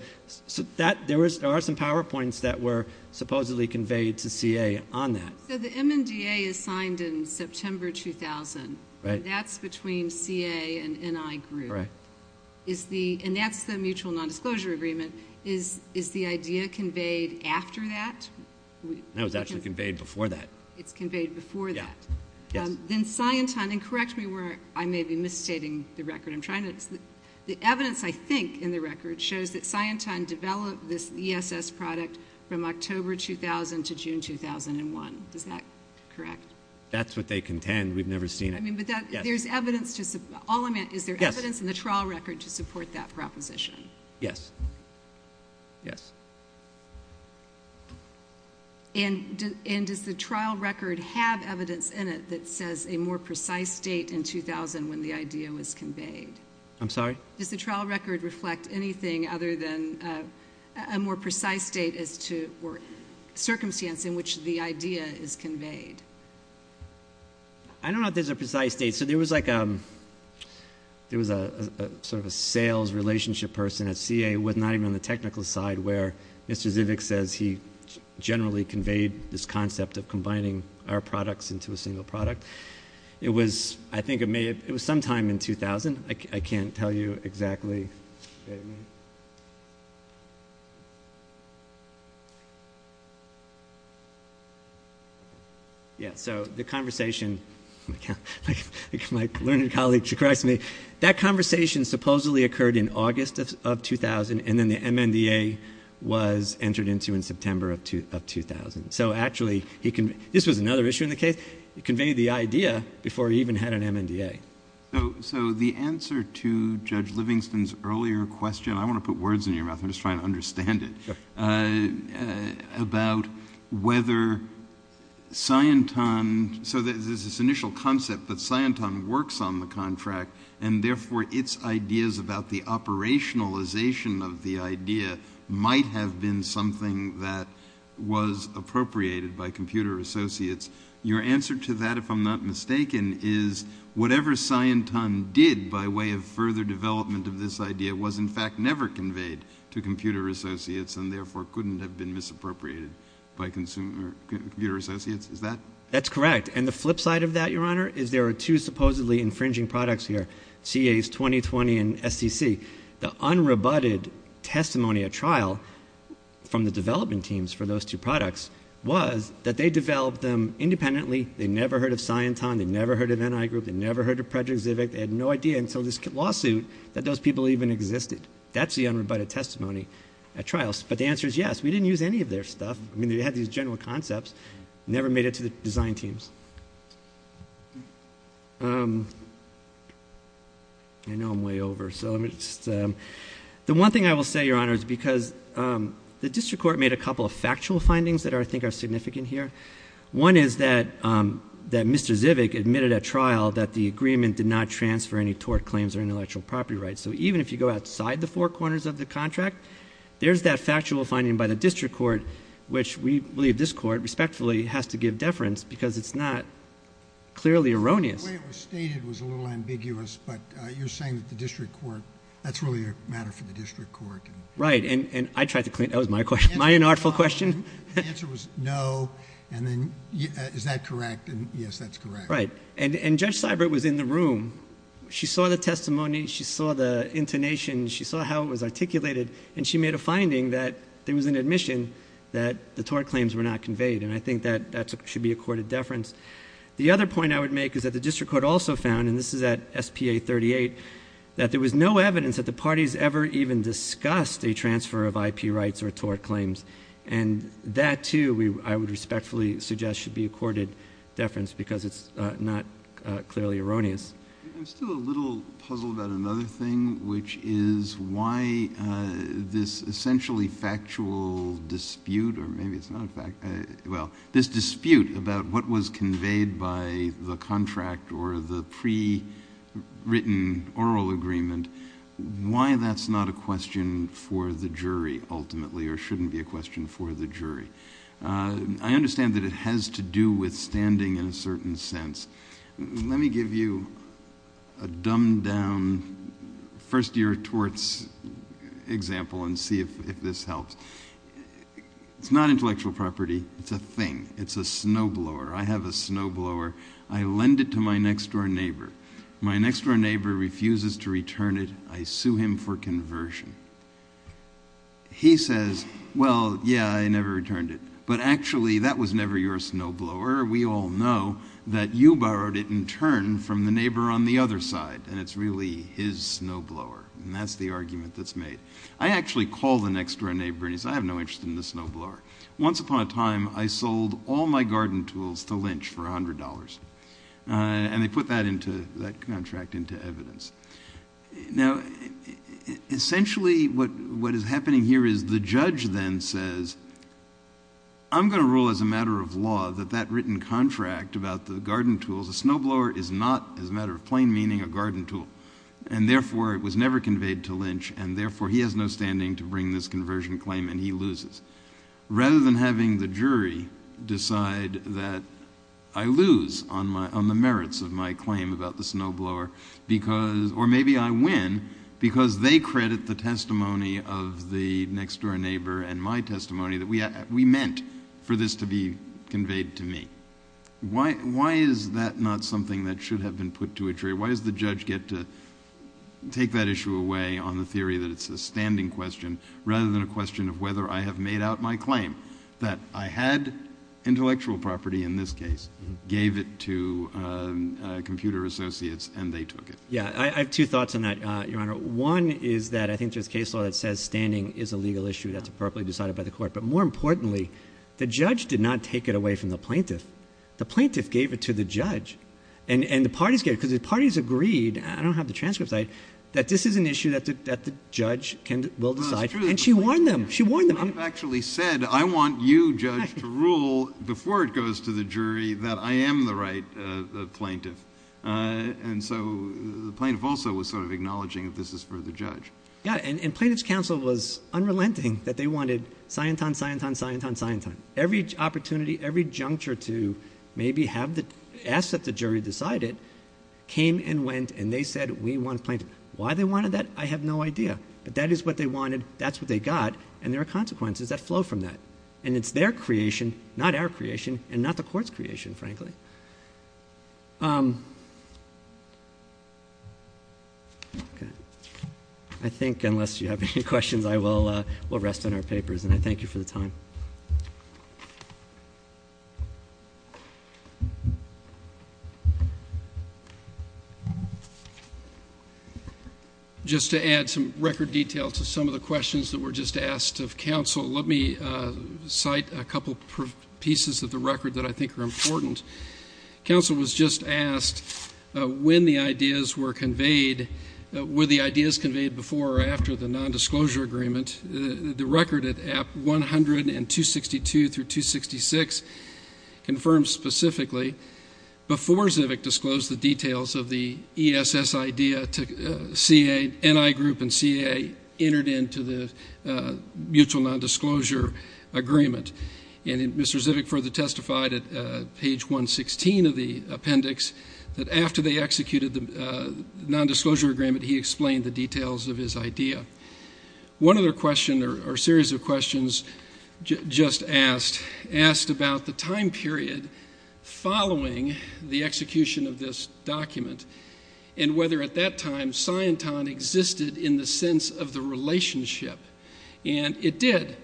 there are some PowerPoints that were supposedly conveyed to CA on that. So the MNDA is signed in September 2000, and that's between CA and NI Group. And that's the mutual nondisclosure agreement. Is the idea conveyed after that? No, it's actually conveyed before that. It's conveyed before that. Then Scienton, and correct me where I may be misstating the record. The evidence, I think, in the record shows that Scienton developed this ESS product from October 2000 to June 2001. Is that correct? That's what they contend. We've never seen it. But there's evidence. Is there evidence in the trial record to support that proposition? Yes. Yes. And does the trial record have evidence in it that says a more precise date in 2000 when the idea was conveyed? I'm sorry? Does the trial record reflect anything other than a more precise date or circumstance in which the idea is conveyed? I don't know if there's a precise date. So there was sort of a sales relationship person at CA, not even on the technical side, where Mr. Zivick says he generally conveyed this concept of combining our products into a single product. I think it was sometime in 2000. I can't tell you exactly. Yeah, so the conversation, my learned colleague should correct me. That conversation supposedly occurred in August of 2000, and then the MNDA was entered into in September of 2000. So actually, this was another issue in the case. He conveyed the idea before he even had an MNDA. So the answer to Judge Livingston's earlier question, I want to put words in your mouth. I'm just trying to understand it. Sure. About whether Scienton, so there's this initial concept that Scienton works on the contract, and therefore its ideas about the operationalization of the idea might have been something that was appropriated by Computer Associates. Your answer to that, if I'm not mistaken, is whatever Scienton did by way of further development of this idea was in fact never conveyed to Computer Associates and therefore couldn't have been misappropriated by Computer Associates. Is that? That's correct. And the flip side of that, Your Honor, is there are two supposedly infringing products here, CA's 2020 and STC. The unrebutted testimony at trial from the development teams for those two products was that they developed them independently. They never heard of Scienton. They never heard of NI Group. They never heard of Project Zivic. They had no idea until this lawsuit that those people even existed. That's the unrebutted testimony at trial. But the answer is yes. We didn't use any of their stuff. I mean, they had these general concepts, never made it to the design teams. I know I'm way over. The one thing I will say, Your Honor, is because the district court made a couple of factual findings that I think are significant here. One is that Mr. Zivic admitted at trial that the agreement did not transfer any tort claims or intellectual property rights. So even if you go outside the four corners of the contract, there's that factual finding by the district court, which we believe this court respectfully has to give deference because it's not clearly erroneous. The way it was stated was a little ambiguous, but you're saying that the district court... That's really a matter for the district court. Right, and I tried to... That was my question. My inartful question. The answer was no, and then is that correct? Yes, that's correct. Right, and Judge Seibert was in the room. She saw the testimony. She saw the intonation. She saw how it was articulated, and she made a finding that there was an admission that the tort claims were not conveyed, and I think that should be accorded deference. The other point I would make is that the district court also found, and this is at SPA 38, that there was no evidence that the parties ever even discussed a transfer of IP rights or tort claims, and that, too, I would respectfully suggest should be accorded deference because it's not clearly erroneous. I'm still a little puzzled about another thing, which is why this essentially factual dispute, or maybe it's not a factual dispute, this dispute about what was conveyed by the contract or the pre-written oral agreement, why that's not a question for the jury ultimately or shouldn't be a question for the jury. I understand that it has to do with standing in a certain sense. Let me give you a dumbed-down first-year torts example and see if this helps. It's not intellectual property. It's a thing. It's a snowblower. I have a snowblower. I lend it to my next-door neighbour. My next-door neighbour refuses to return it. I sue him for conversion. He says, well, yeah, I never returned it, but actually that was never your snowblower. We all know that you borrowed it in turn from the neighbour on the other side, and it's really his snowblower, and that's the argument that's made. I actually call the next-door neighbour and say, I have no interest in this snowblower. Once upon a time, I sold all my garden tools to Lynch for $100, and they put that contract into evidence. Now, essentially what is happening here is the judge then says, I'm going to rule as a matter of law that that written contract about the garden tools, the snowblower is not, as a matter of plain meaning, a garden tool, and therefore it was never conveyed to Lynch, and therefore he has no standing to bring this conversion claim, and he loses. Rather than having the jury decide that I lose on the merits of my claim about the snowblower, or maybe I win because they credit the testimony of the next-door neighbour and my testimony that we meant for this to be conveyed to me. Why is that not something that should have been put to a jury? Why does the judge get to take that issue away on the theory that it's a standing question rather than a question of whether I have made out my claim that I had intellectual property in this case, gave it to computer associates, and they took it? Yeah, I have two thoughts on that, Your Honour. One is that I think there's case law that says standing is a legal issue that's appropriately decided by the court. But more importantly, the judge did not take it away from the plaintiff. The plaintiff gave it to the judge, and the parties gave it because the parties agreed, and I don't have the transcripts, that this is an issue that the judge will decide, and she warned them. She warned them. You've actually said, I want you, judge, to rule before it goes to the jury that I am the right plaintiff. And so the plaintiff also was sort of acknowledging that this is for the judge. Yeah, and Plaintiff's Counsel was unrelenting, that they wanted scion time, scion time, scion time, scion time. Every opportunity, every juncture to maybe ask that the jury decide it came and went, and they said, we want plaintiff. Why they wanted that, I have no idea. But that is what they wanted, that's what they got, and there are consequences that flow from that. And it's their creation, not our creation, and not the court's creation, frankly. I think unless you have any questions, I will rest on our papers, and I thank you for the time. Just to add some record detail to some of the questions that were just asked of counsel, let me cite a couple pieces of the record that I think are important. Counsel was just asked when the ideas were conveyed, were the ideas conveyed before or after the nondisclosure agreement. The record at app 100 and 262 through 266 confirms specifically, before Zivic disclosed the details of the ESS idea, NI group and CA entered into the mutual nondisclosure agreement. And Mr. Zivic further testified at page 116 of the appendix that after they executed the nondisclosure agreement, he explained the details of his idea. One other question or series of questions just asked, asked about the time period following the execution of this document and whether at that time Scienton existed in the sense of the relationship. And it did.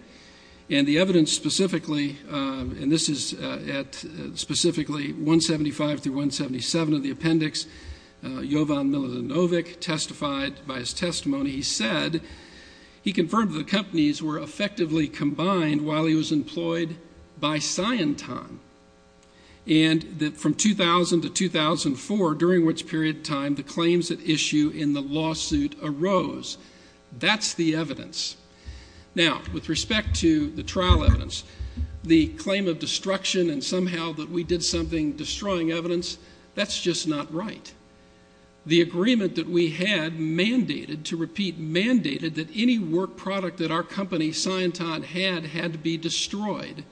And the evidence specifically, and this is at specifically 175 through 177 of the appendix, Jovan Milinovic testified by his testimony. He said he confirmed that the companies were effectively combined while he was employed by Scienton. And that from 2000 to 2004, during which period of time, the claims at issue in the lawsuit arose. That's the evidence. Now, with respect to the trial evidence, the claim of destruction and somehow that we did something destroying evidence, that's just not right. The agreement that we had mandated, to repeat, mandated, that any work product that our company, Scienton, had had to be destroyed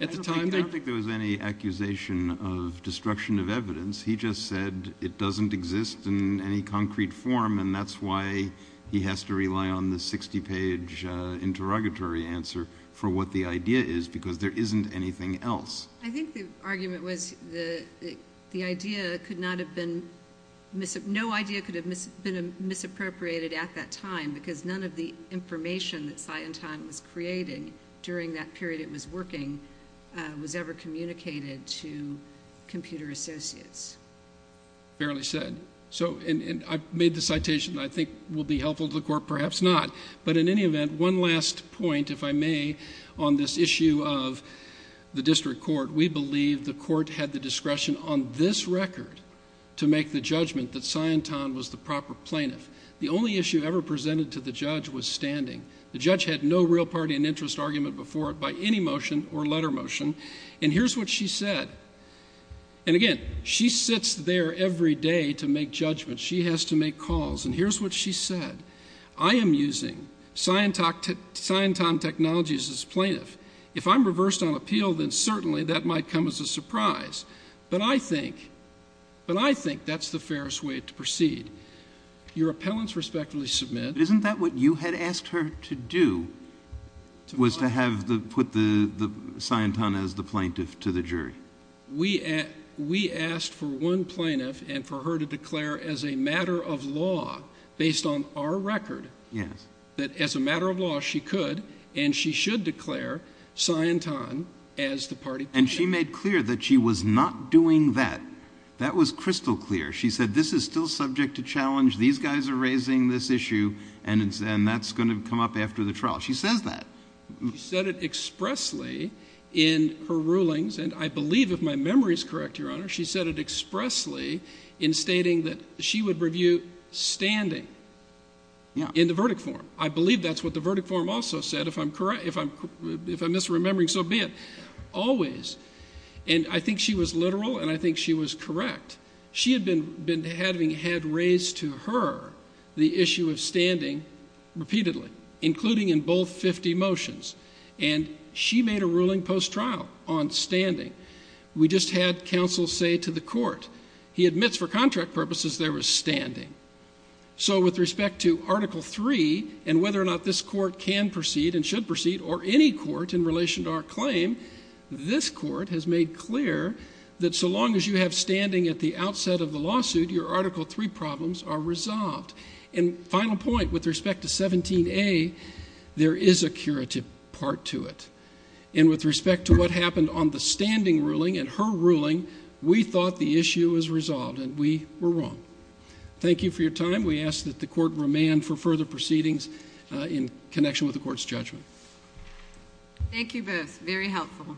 at the time. I don't think there was any accusation of destruction of evidence. He just said it doesn't exist in any concrete form, and that's why he has to rely on the 60-page interrogatory answer for what the idea is because there isn't anything else. I think the argument was the idea could not have been, no idea could have been misappropriated at that time because none of the information that Scienton was creating during that period it was working was ever communicated to computer associates. Fairly said. And I've made the citation that I think will be helpful to the court. Perhaps not. But in any event, one last point, if I may, on this issue of the district court. We believe the court had the discretion on this record to make the judgment that Scienton was the proper plaintiff. The only issue ever presented to the judge was standing. The judge had no real party and interest argument before it by any motion or letter motion, and here's what she said. And again, she sits there every day to make judgments. She has to make calls, and here's what she said. I am using Scienton technologies as plaintiff. If I'm reversed on appeal, then certainly that might come as a surprise. But I think that's the fairest way to proceed. Your appellants respectfully submit. Isn't that what you had asked her to do was to put Scienton as the plaintiff to the jury? We asked for one plaintiff and for her to declare as a matter of law, based on our record, that as a matter of law she could and she should declare Scienton as the party plaintiff. And she made clear that she was not doing that. That was crystal clear. She said this is still subject to challenge. These guys are raising this issue, and that's going to come up after the trial. She says that. She said it expressly in her rulings, and I believe if my memory is correct, Your Honor, she said it expressly in stating that she would review standing in the verdict form. I believe that's what the verdict form also said. If I'm misremembering, so be it. Always. And I think she was literal, and I think she was correct. She had been having had raised to her the issue of standing repeatedly, including in both 50 motions, and she made a ruling post-trial on standing. We just had counsel say to the court he admits for contract purposes there was standing. So with respect to Article III and whether or not this court can proceed and should proceed or any court in relation to our claim, this court has made clear that so long as you have standing at the outset of the lawsuit, your Article III problems are resolved. And final point, with respect to 17A, there is a curative part to it. And with respect to what happened on the standing ruling and her ruling, we thought the issue was resolved, and we were wrong. Thank you for your time. We ask that the court remand for further proceedings in connection with the court's judgment. Thank you both. Very helpful.